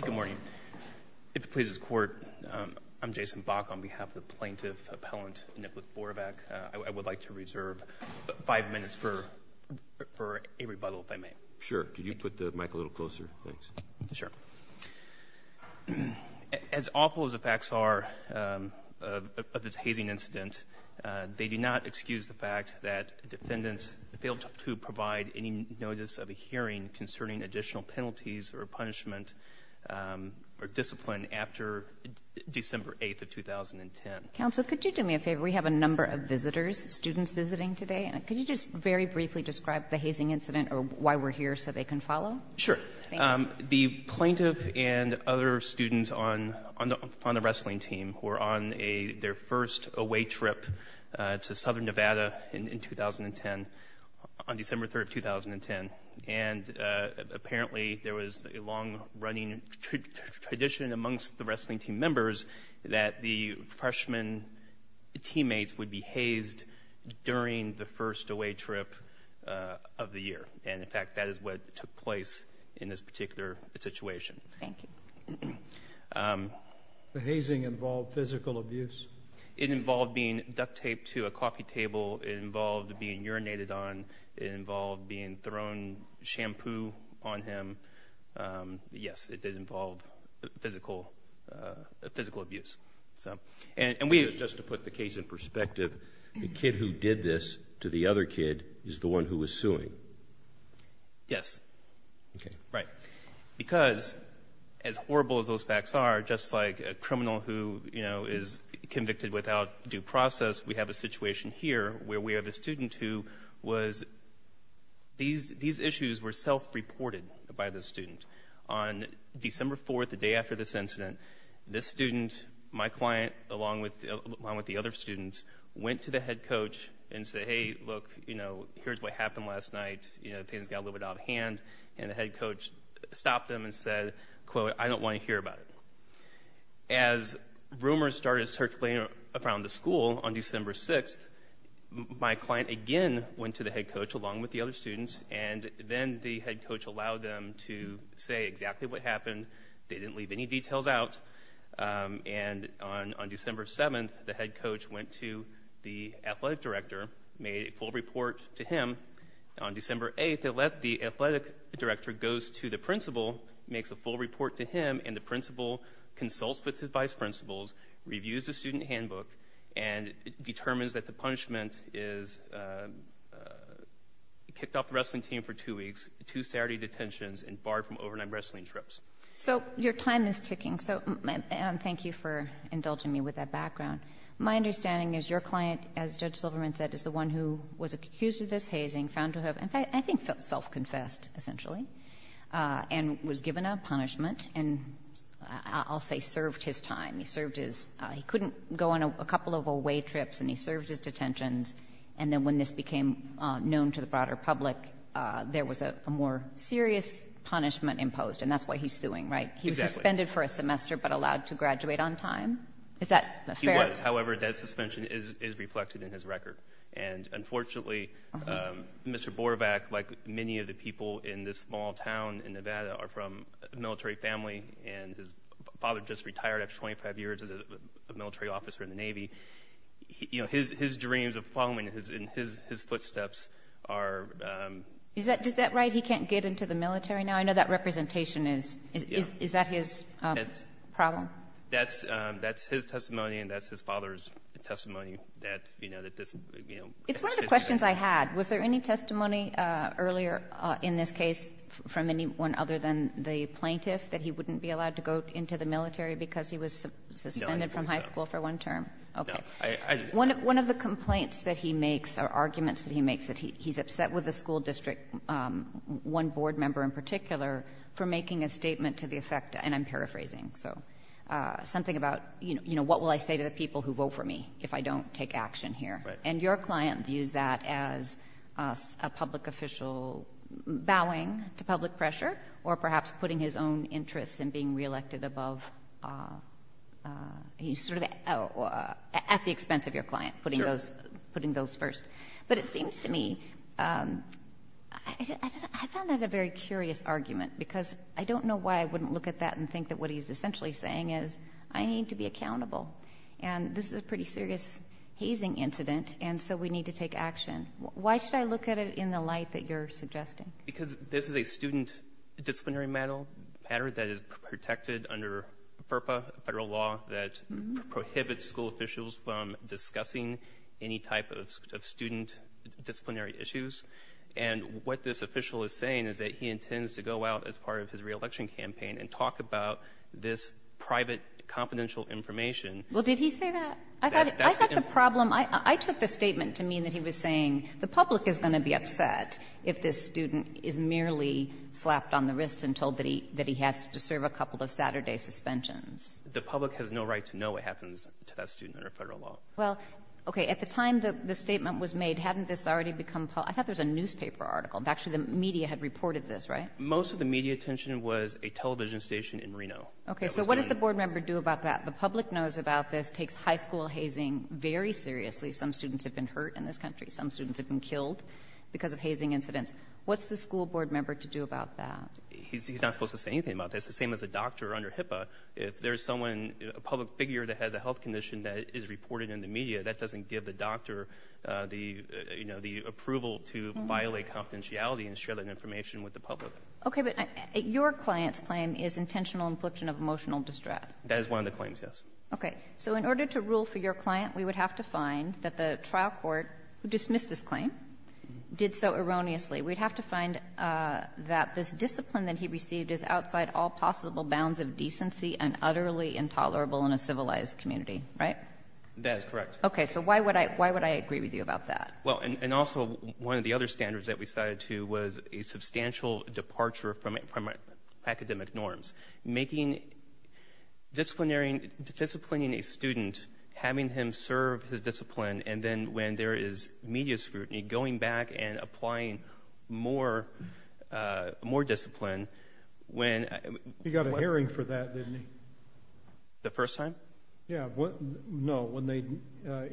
Good morning. If it pleases the Court, I'm Jason Bach on behalf of the Plaintiff Appellant Nipleth Borovac. I would like to reserve five minutes for a rebuttal, if I may. Sure. Could you put the mic a little closer? Thanks. Sure. As awful as the facts are of this hazing incident, they do not excuse the fact that defendants failed to provide any notice of a hearing concerning additional penalties or punishment or discipline after December 8th of 2010. Counsel, could you do me a favor? We have a number of visitors, students visiting today. Could you just very briefly describe the hazing incident or why we're here so they can follow? Sure. The plaintiff and other students on the wrestling team were on their first away trip to Southern Nevada in 2010, on December 3rd of 2010. And apparently there was a long-running tradition amongst the wrestling team members that the freshman teammates would be hazed during the first away trip of the year. And in fact, that is what took place in this particular situation. Thank you. The hazing involved physical abuse? It involved being duct-taped to a coffee table. It involved being urinated on. It involved being thrown shampoo on him. Yes, it did involve physical abuse. And just to put the case in perspective, the kid who did this to the other kid is the one who was suing? Yes. Okay. Right. Because as horrible as those facts are, just like a criminal who is convicted without due process, we have a situation here where we have a student who was, these issues were self-reported by the student. On December 4th, the day after this incident, this student, my client, along with the other students, went to the head coach and said, hey, look, you know, here's what happened last night. You know, things got a little bit out of hand. And the head coach stopped them and said, quote, I don't want to hear about it. As rumors started circulating around the school on December 6th, my client again went to the head coach along with the other students. And then the head coach allowed them to say exactly what happened. They didn't leave any details out. And on December 7th, the head coach went to the athletic director, made a full report to him. On December 8th, the athletic director goes to the principal, consults with his vice principals, reviews the student handbook, and determines that the punishment is kicked off the wrestling team for two weeks, two Saturday detentions, and barred from overnight wrestling trips. So your time is ticking. So thank you for indulging me with that background. My understanding is your client, as Judge Silverman said, is the one who was accused of this hazing, found to have, in fact, I think self-confessed, essentially, and was given a punishment and, I'll say, served his time. He couldn't go on a couple of away trips and he served his detentions. And then when this became known to the broader public, there was a more serious punishment imposed. And that's what he's suing, right? He was suspended for a semester but allowed to graduate on time. Is that fair? He was. However, that suspension is reflected in his testimony. He's from a small town in Nevada, from a military family, and his father just retired after 25 years as a military officer in the Navy. You know, his dreams of following in his footsteps are... Is that right? He can't get into the military now? I know that representation is... Is that his problem? That's his testimony and that's his father's testimony. It's one of the questions I had. Was there any testimony earlier in this case from anyone other than the plaintiff that he wouldn't be allowed to go into the military because he was suspended from high school for one term? Okay. One of the complaints that he makes, or arguments that he makes, that he's upset with the school district, one board member in particular, for making a statement to the effect, and I'm paraphrasing, so something about, you know, what will I say to the people who vote for me if I don't take action here? And your client views that as a public official bowing to public pressure, or perhaps putting his own interests in being re-elected above... At the expense of your client, putting those first. But it seems to me... I found that a very curious argument because I don't know why I wouldn't look at that and think that what he's essentially saying is, I need to be accountable. And this is a pretty serious hazing incident, and so we need to take action. Why should I look at it in the light that you're suggesting? Because this is a student disciplinary matter that is protected under FERPA, federal law, that prohibits school officials from discussing any type of student disciplinary issues. And what this official is saying is that he intends to go out as part of his re-election campaign and talk about this private confidential information. Well, did he say that? I thought the problem... I took the statement to mean that he was saying the public is going to be upset if this student is merely slapped on the wrist and told that he has to serve a couple of Saturday suspensions. The public has no right to know what happens to that student under federal law. Well, okay, at the time the statement was made, hadn't this already become public? I thought there was a newspaper article. Actually, the media had reported this, right? Most of the media attention was a television station in Reno. Okay, so what does the board member do about that? The public knows about this, takes high school hazing very seriously. Some students have been hurt in this country, some students have been killed because of hazing incidents. What's the school board member to do about that? He's not supposed to say anything about this, same as a doctor under HIPAA. If there's someone, a public figure that has a health condition that is reported in the media, that doesn't give the doctor the approval to violate confidentiality and share that information with the public. Okay, but your client's claim is intentional infliction of emotional distress. That is one of the claims, yes. Okay, so in order to rule for your client, we would have to find that the trial court, who dismissed this claim, did so erroneously. We'd have to find that this discipline that he received is outside all possible bounds of decency and utterly intolerable in a civilized community, right? That is correct. Okay, so why would I agree with you about that? Well, and also one of the other standards that we cited, too, was a substantial departure from academic norms. Disciplining a student, having him serve his discipline, and then when there is media scrutiny, going back and applying more discipline when... He got a hearing for that, didn't he? The first time? Yeah, no, when they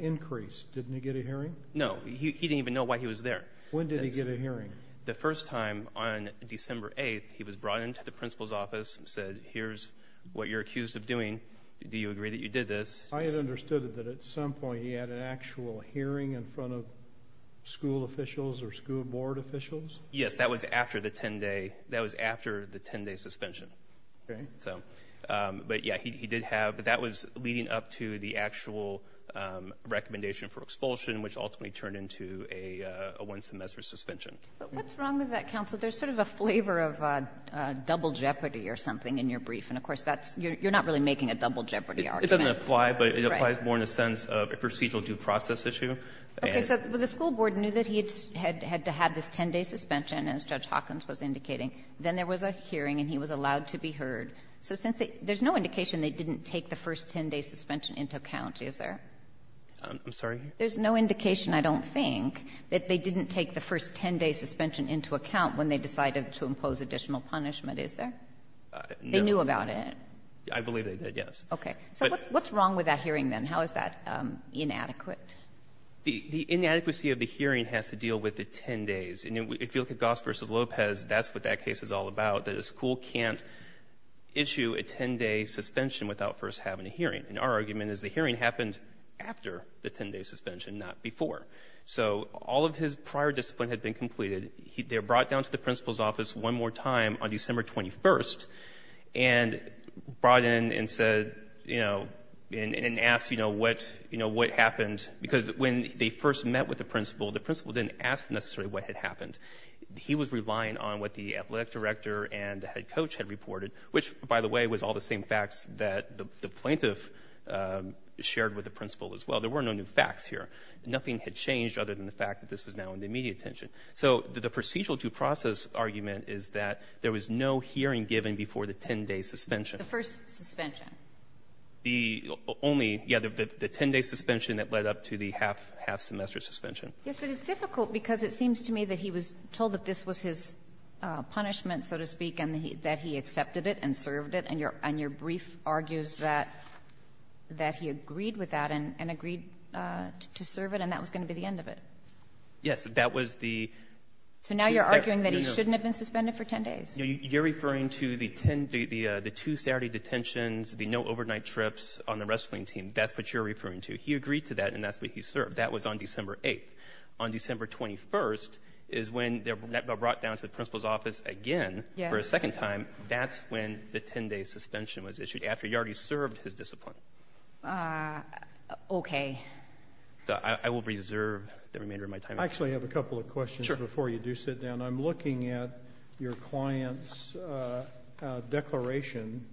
increased. Didn't he get a hearing? No, he didn't even know why he was there. When did he get a hearing? The first time, on December 8th, he was brought into the principal's office and said, here's what you're accused of doing. Do you agree that you did this? I had understood that at some point, he had an actual hearing in front of school officials or school board officials? Yes, that was after the 10-day suspension. Okay. But yeah, he did have, but that was leading up to the actual recommendation for expulsion, which ultimately turned into a one-semester suspension. But what's wrong with that, counsel? There's sort of a flavor of double jeopardy or something in your brief. And of course, that's — you're not really making a double jeopardy argument. It doesn't apply, but it applies more in the sense of a procedural due process issue. Okay, so the school board knew that he had to have this 10-day suspension, as Judge Hawkins was indicating. Then there was a hearing, and he was allowed to be heard. So since — there's no indication they didn't take the first 10-day suspension into account, is there? I'm sorry? There's no indication, I don't think, that they didn't take the first 10-day suspension into account when they decided to impose additional punishment, is there? They knew about it? I believe they did, yes. Okay. So what's wrong with that hearing, then? How is that inadequate? The inadequacy of the hearing has to deal with the 10 days. And if you look at Goss v. Lopez, that's what that case is all about, that a school can't issue a 10-day suspension without first having a hearing. And our argument is the hearing happened after the 10-day suspension, not before. So all of his prior discipline had been completed. They were brought down to the principal's office one more time on December 21st, and brought in and said — you know, and asked, you know, what happened. Because when they first met with the principal, the principal didn't ask necessarily what had happened. He was relying on what the athletic director and the head coach had reported, which, by the way, was all the same facts that the plaintiff shared with the principal as well. There were no new facts here. Nothing had changed other than the fact that this was now in the immediate attention. So the procedural due process argument is that there was no hearing given before the 10-day suspension. The first suspension. The only — yeah, the 10-day suspension that led up to the half-semester suspension. Yes, but it's difficult because it seems to me that he was told that this was his punishment, so to speak, and that he accepted it and served it. And your brief argues that he agreed with that and agreed to serve it, and that was going to be the end of it. Yes, that was the — So now you're arguing that he shouldn't have been suspended for 10 days? You're referring to the two Saturday detentions, the no overnight trips on the wrestling team. That's what you're referring to. He agreed to that, and that's what he served. That was on office again for a second time. That's when the 10-day suspension was issued, after he already served his discipline. Okay. I will reserve the remainder of my time. I actually have a couple of questions before you do sit down. I'm looking at your client's declaration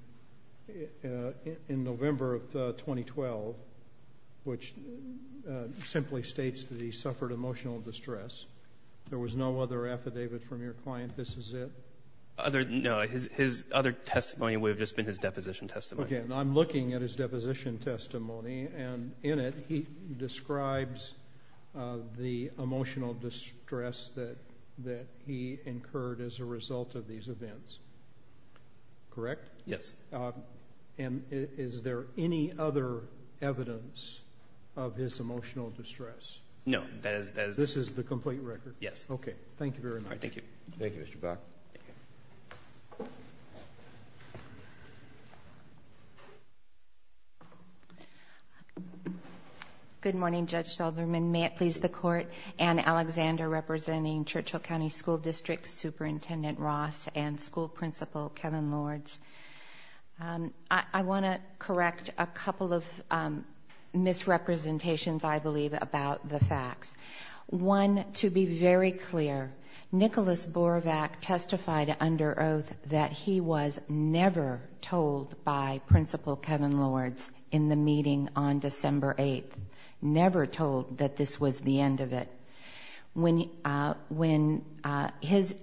in November of 2012, which simply states that he suffered emotional distress. There was no other affidavit from your client, this is it? No, his other testimony would have just been his deposition testimony. Okay, and I'm looking at his deposition testimony, and in it he describes the emotional distress that he incurred as a result of these events. Correct? Yes. And is there any other evidence of his emotional distress? No, that is — This is the complete record? Yes. Okay. Thank you very much. All right, thank you. Thank you, Mr. Buck. Good morning, Judge Selberman. May it please the Court, Anne Alexander representing Churchill County School District, Superintendent Ross, and School Principal Kevin Lords. I want to correct a couple of misrepresentations, I believe, about the facts. One, to be very clear, Nicholas Borovac testified under oath that he was never told by Principal Kevin Lords in the meeting on December 8th, never told that this was the end of it. In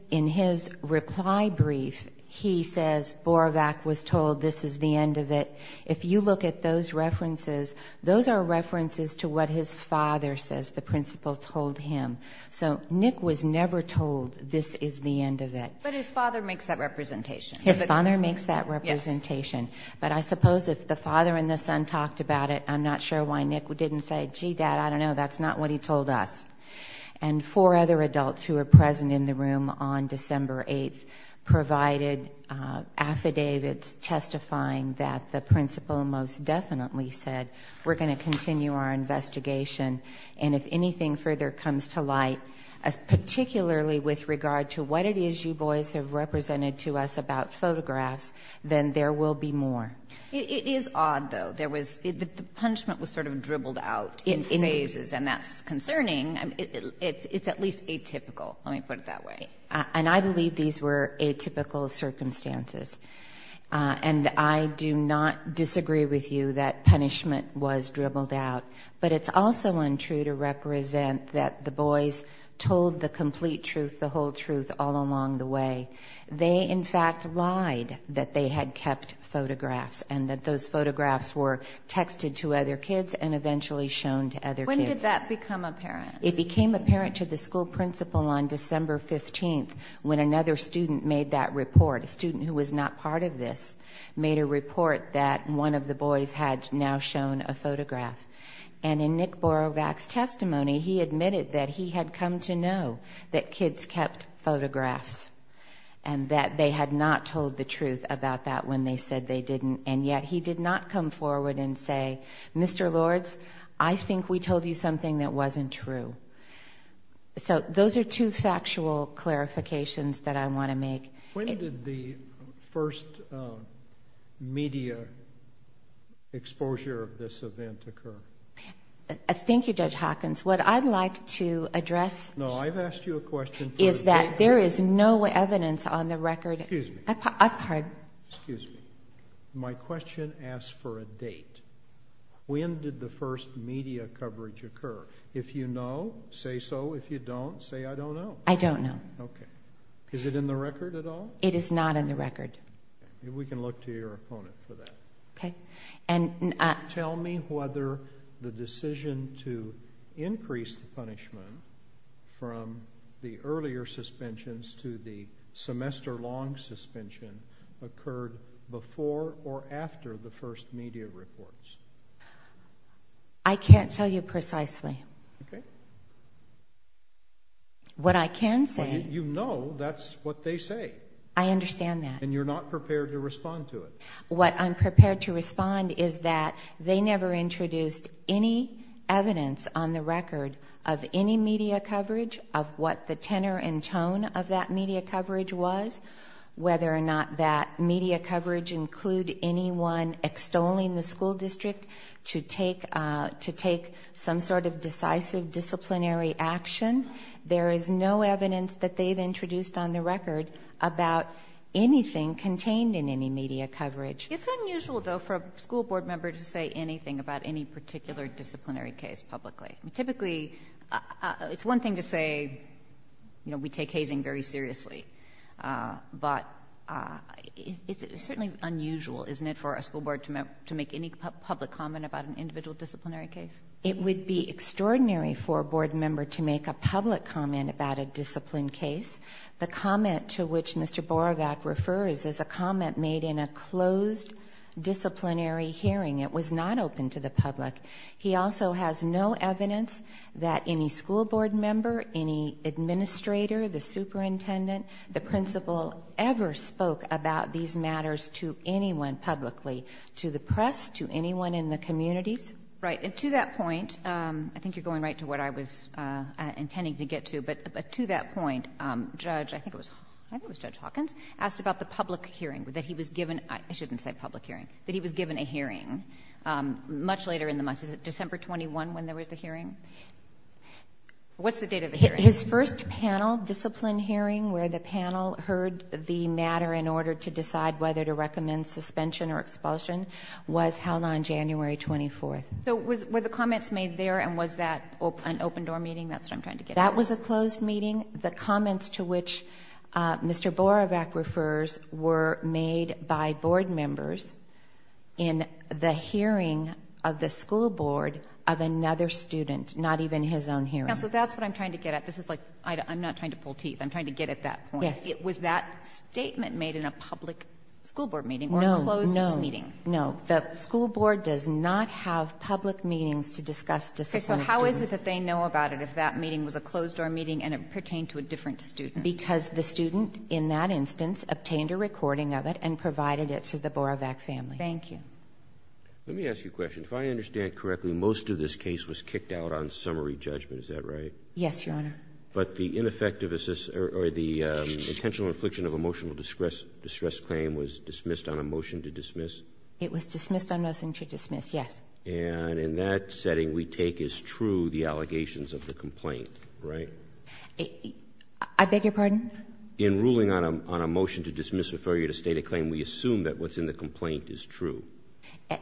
his reply brief, he says Borovac was told this is the end of it. If you look at those those are references to what his father says the principal told him. So Nick was never told this is the end of it. But his father makes that representation. His father makes that representation. But I suppose if the father and the son talked about it, I'm not sure why Nick didn't say, gee, dad, I don't know, that's not what he told us. And four other adults who were present in the room on December 8th provided affidavits testifying that the principal most definitely said we're going to continue our investigation. And if anything further comes to light, particularly with regard to what it is you boys have represented to us about photographs, then there will be more. It is odd, though. The punishment was sort of dribbled out in phases. And that's concerning. It's at least atypical. Let me put it that way. And I believe these were atypical circumstances. And I do not disagree with you that punishment was dribbled out. But it's also untrue to represent that the boys told the complete truth, the whole truth all along the way. They, in fact, lied that they had kept photographs and that those photographs were texted to other kids and eventually shown to other kids. When did that become apparent? It became apparent to the school principal on December 15th when another student made that made a report that one of the boys had now shown a photograph. And in Nick Borovac's testimony, he admitted that he had come to know that kids kept photographs and that they had not told the truth about that when they said they didn't. And yet he did not come forward and say, Mr. Lords, I think we told you something that wasn't true. So those are two factual clarifications that I want to make. When did the first media exposure of this event occur? Thank you, Judge Hawkins. What I'd like to address. No, I've asked you a question. Is that there is no evidence on the record. Excuse me. I pardon. Excuse me. My question asks for a date. When did the first media coverage occur? If you know, say so. If you don't say, I don't know. I don't know. Is it in the record at all? It is not in the record. We can look to your opponent for that. Tell me whether the decision to increase the punishment from the earlier suspensions to the semester long suspension occurred before or after the first media reports. I can't tell you precisely. Okay. What I can say. You know, that's what they say. I understand that. And you're not prepared to respond to it. What I'm prepared to respond is that they never introduced any evidence on the record of any media coverage of what the tenor and tone of that media coverage was, whether or not that media coverage include anyone extolling the school district to take some sort of decisive disciplinary action. There is no evidence that they've introduced on the record about anything contained in any media coverage. It's unusual, though, for a school board member to say anything about any particular disciplinary case publicly. Typically, it's one thing to say, you know, we take hazing very seriously. But it's certainly unusual, isn't it, for a school board to make any public comment about an individual disciplinary case? It would be extraordinary for a board member to make a public comment about a disciplined case. The comment to which Mr. Borovac refers is a comment made in a closed disciplinary hearing. It was not open to the public. He also has no evidence that any school board member, any administrator, the superintendent, the principal ever spoke about these matters to anyone publicly, to the press, to anyone in the communities. Right. And to that point, I think you're going right to what I was intending to get to. But to that point, Judge, I think it was Judge Hawkins, asked about the public hearing that he was given, I shouldn't say public hearing, that he was given a hearing much later in the month. Is it December 21 when there was the hearing? What's the date of the hearing? His first panel, disciplined hearing, where the panel heard the matter in order to decide whether to recommend suspension or expulsion was held on January 24th. So were the comments made there? And was that an open door meeting? That's what I'm trying to get at. That was a closed meeting. The comments to which Mr. Borovac refers were made by board members in the hearing of the school board of another student, not even his own hearing. Counsel, that's what I'm trying to get at. This is like, I'm not trying to pull teeth. I'm trying to get at that point. Was that statement made in a public school board meeting or a closed meeting? No, no, no. The school board does not have public meetings to discuss disciplined hearings. So how is it that they know about it if that meeting was a closed door meeting and it pertained to a different student? Because the student, in that instance, obtained a recording of it and provided it to the Borovac family. Thank you. Let me ask you a question. If I understand correctly, most of this case was kicked out on summary judgment, is that right? Yes, Your Honor. But the ineffectiveness or the intentional infliction of emotional distress claim was dismissed on a motion to dismiss? It was dismissed on motion to dismiss, yes. And in that setting, we take as true the allegations of the complaint, right? I beg your pardon? In ruling on a motion to dismiss, refer you to state a claim, we assume that what's in the complaint is true.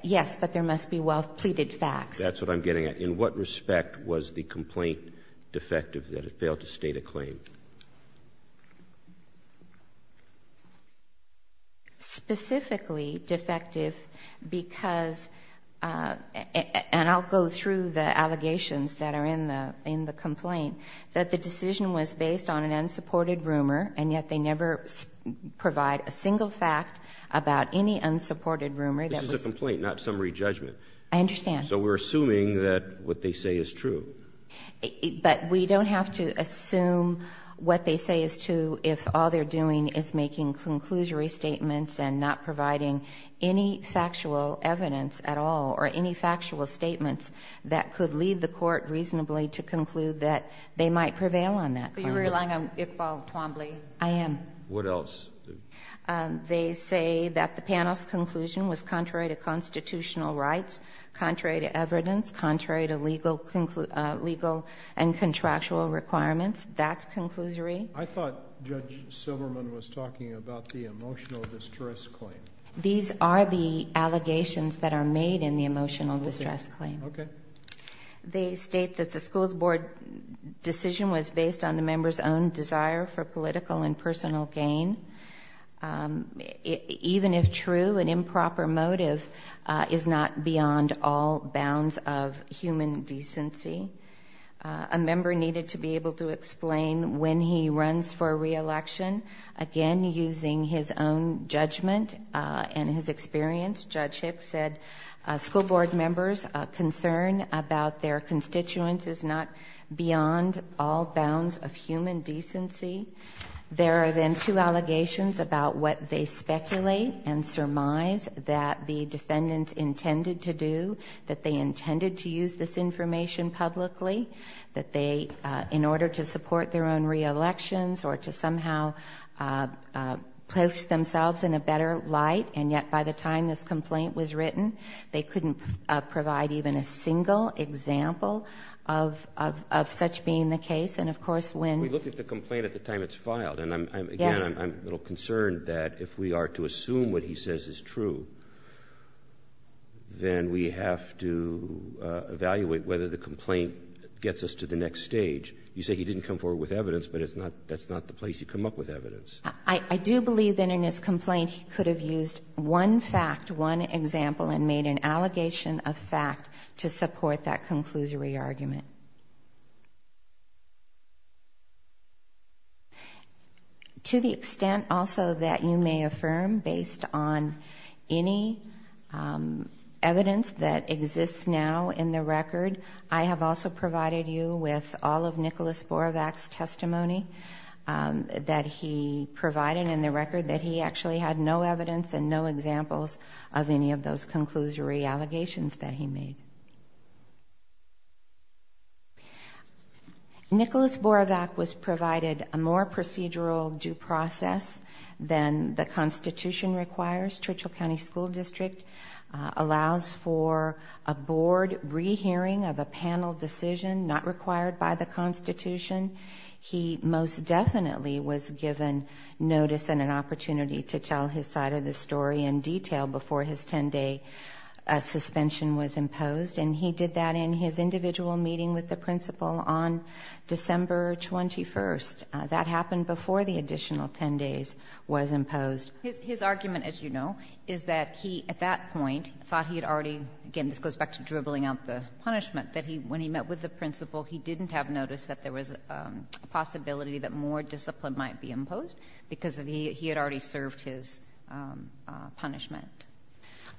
Yes, but there must be well-pleaded facts. That's what I'm getting at. In what respect was the complaint defective that it failed to state a claim? Specifically defective because, and I'll go through the allegations that are in the complaint, that the decision was based on an unsupported rumor, and yet they never provide a single fact about any unsupported rumor. This is a complaint, not summary judgment. I understand. So we're assuming that what they say is true. But we don't have to assume what they say is true if all they're doing is making conclusory statements and not providing any factual evidence at all or any factual statements that could lead the court reasonably to conclude that they might prevail on that. Are you relying on Iqbal Twombly? I am. What else? They say that the panel's conclusion was contrary to constitutional rights, contrary to evidence, contrary to legal and contractual requirements. That's conclusory. I thought Judge Silverman was talking about the emotional distress claim. These are the allegations that are made in the emotional distress claim. Okay. They state that the school's board decision was based on the member's own desire for political and personal gain. Even if true, an improper motive is not beyond all bounds of human decency. A member needed to be able to explain when he runs for re-election, again, using his own judgment and his experience. Judge Hicks said school board members' concern about their constituents is not beyond all bounds of human decency. There are then two allegations about what they speculate and surmise that the defendants intended to do, that they intended to use this information publicly, that they, in order to support their own re-elections or to somehow place themselves in a better light, and yet, by the time this complaint was written, they couldn't provide even a single example of such being the case. And, of course, when— We look at the complaint at the time it's filed. And, again, I'm a little concerned that if we are to assume what he says is true, then we have to evaluate whether the complaint gets us to the next stage. You say he didn't come forward with evidence, but that's not the place you come up with evidence. I do believe that in his complaint he could have used one fact, one example, and made an allegation of fact to support that conclusory argument. To the extent, also, that you may affirm based on any evidence that exists now in the record, I have also provided you with all of Nicholas Borovac's testimony that he provided in the record that he actually had no evidence and no examples of any of those conclusory allegations that he made. Nicholas Borovac was provided a more procedural due process than the Constitution requires. Churchill County School District allows for a board rehearing of a panel decision, not required by the Constitution. He most definitely was given notice and an opportunity to tell his side of the story in detail before his 10-day suspension was imposed. And he did that in his individual meeting with the principal on December 21st. That happened before the additional 10 days was imposed. His argument, as you know, is that he, at that point, thought he had already, again, this goes back to dribbling out the punishment, that he, when he met with the principal, he didn't have notice that there was a possibility that more discipline might be imposed because he had already served his punishment.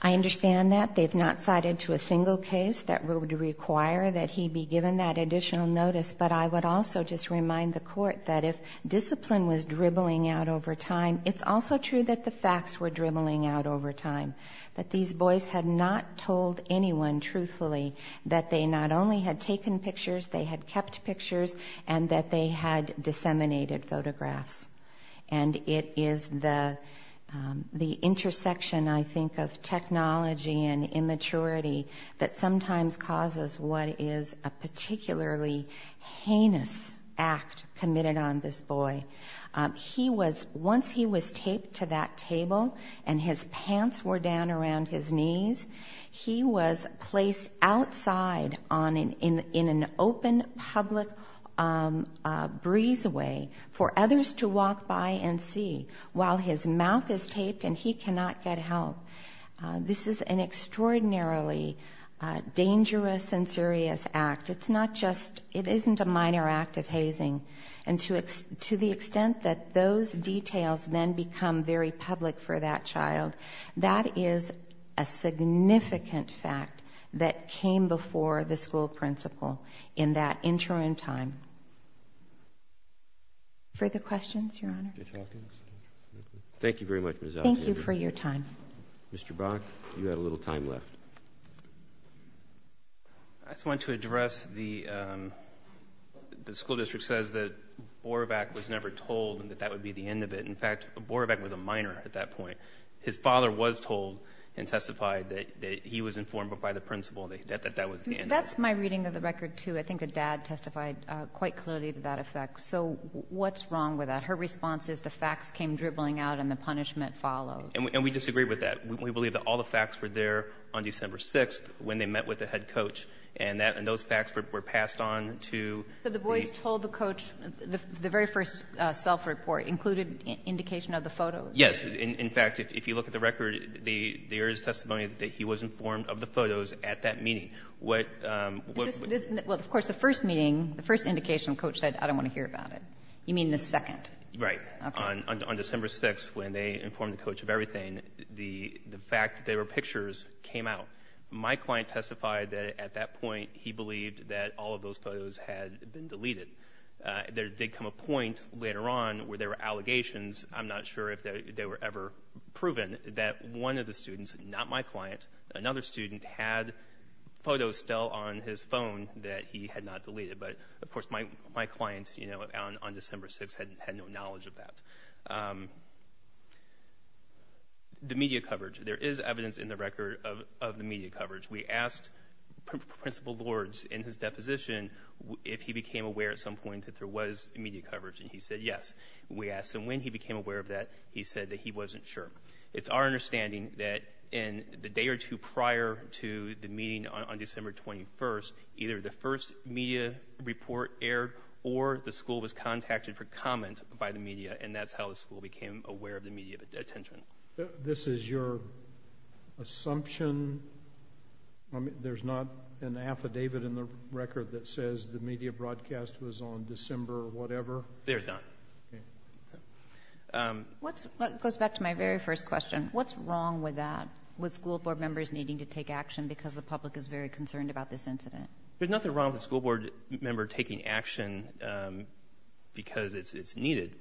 I understand that. They have not cited to a single case that would require that he be given that additional notice, but I would also just remind the Court that if discipline was dribbling out over time, it's also true that the facts were dribbling out over time, that these boys had not told anyone truthfully that they not only had taken pictures, they had kept pictures, and that they had disseminated photographs. And it is the intersection, I think, of technology and immaturity that sometimes causes what is a particularly heinous act committed on this boy. He was, once he was taped to that table and his pants were down around his knees, he was placed outside in an open public breezeway for others to walk by and see while his mouth is taped and he cannot get help. This is an extraordinarily dangerous and serious act. It isn't a minor act of hazing. And to the extent that those details then become very public for that child, that is a significant fact that came before the school principal in that interim time. Further questions, Your Honor? Thank you very much, Ms. Alexander. Thank you for your time. Mr. Brock, you had a little time left. I just wanted to address the school district says that Borabak was never told that that would be the end of it. In fact, Borabak was a minor at that point. His father was told and testified that he was informed by the principal that that was the end of it. That's my reading of the record, too. I think the dad testified quite clearly to that effect. So what's wrong with that? Her response is the facts came dribbling out and the punishment followed. And we disagree with that. We believe that all the facts were there on December 6th when they met with the head coach and that and those facts were passed on to the boys told the coach the very first self-report included indication of the photo. Yes. In fact, if you look at the record, the there is testimony that he was informed of the photos at that meeting. What? Well, of course, the first meeting, the first indication coach said, I don't want to hear about it. You mean the second? Right. On December 6th, when they informed the coach of everything, the fact that there were pictures came out. My client testified that at that point he believed that all of those photos had been deleted. There did come a point later on where there were allegations. I'm not sure if they were ever proven that one of the students, not my client, another student had photos still on his phone that he had not deleted. Of course, my client on December 6th had no knowledge of that. The media coverage. There is evidence in the record of the media coverage. We asked Principal Lords in his deposition if he became aware at some point that there was media coverage and he said yes. We asked him when he became aware of that. He said that he wasn't sure. It's our understanding that in the day or two prior to the meeting on December 21st, either the first media report aired or the school was contacted for comment by the media and that's how the school became aware of the media attention. This is your assumption? There's not an affidavit in the record that says the media broadcast was on December whatever? There's not. That goes back to my very first question. What's wrong with that? With school board members needing to take action because the public is very concerned about this incident? There's nothing wrong with a school board member taking action because it's needed.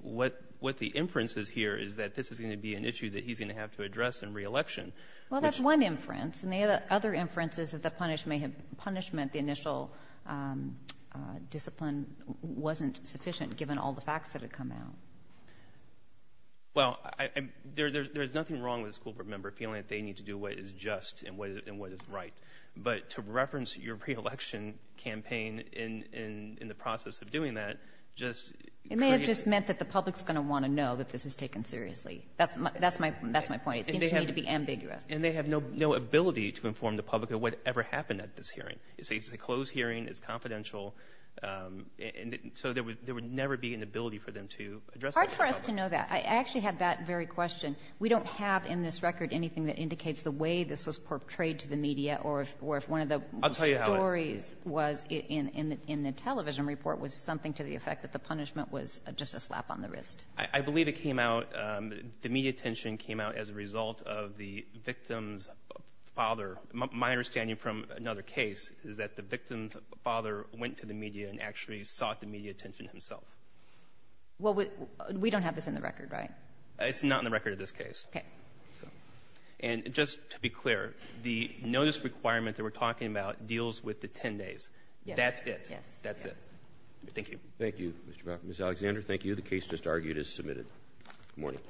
What the inference is here is that this is going to be an issue that he's going to have to address in re-election. Well, that's one inference. And the other inference is that the punishment, the initial discipline wasn't sufficient given all the facts that had come out. Well, there's nothing wrong with a school board member feeling that they need to do what is just and what is right. But to reference your re-election campaign in the process of doing that just... It may have just meant that the public's going to want to know that this is taken seriously. That's my point. It seems to me to be ambiguous. And they have no ability to inform the public of whatever happened at this hearing. It's a closed hearing. It's confidential. So there would never be an ability for them to address... Hard for us to know that. I actually have that very question. We don't have in this record anything that indicates the way this was portrayed to the public or if one of the stories was in the television report was something to the effect that the punishment was just a slap on the wrist. I believe it came out, the media attention came out as a result of the victim's father. My understanding from another case is that the victim's father went to the media and actually sought the media attention himself. Well, we don't have this in the record, right? It's not in the record in this case. Okay. And just to be clear, the notice requirement that we're talking about deals with the 10 days. That's it. Yes. That's it. Thank you. Thank you, Ms. Alexander. Thank you. The case just argued is submitted. Good morning.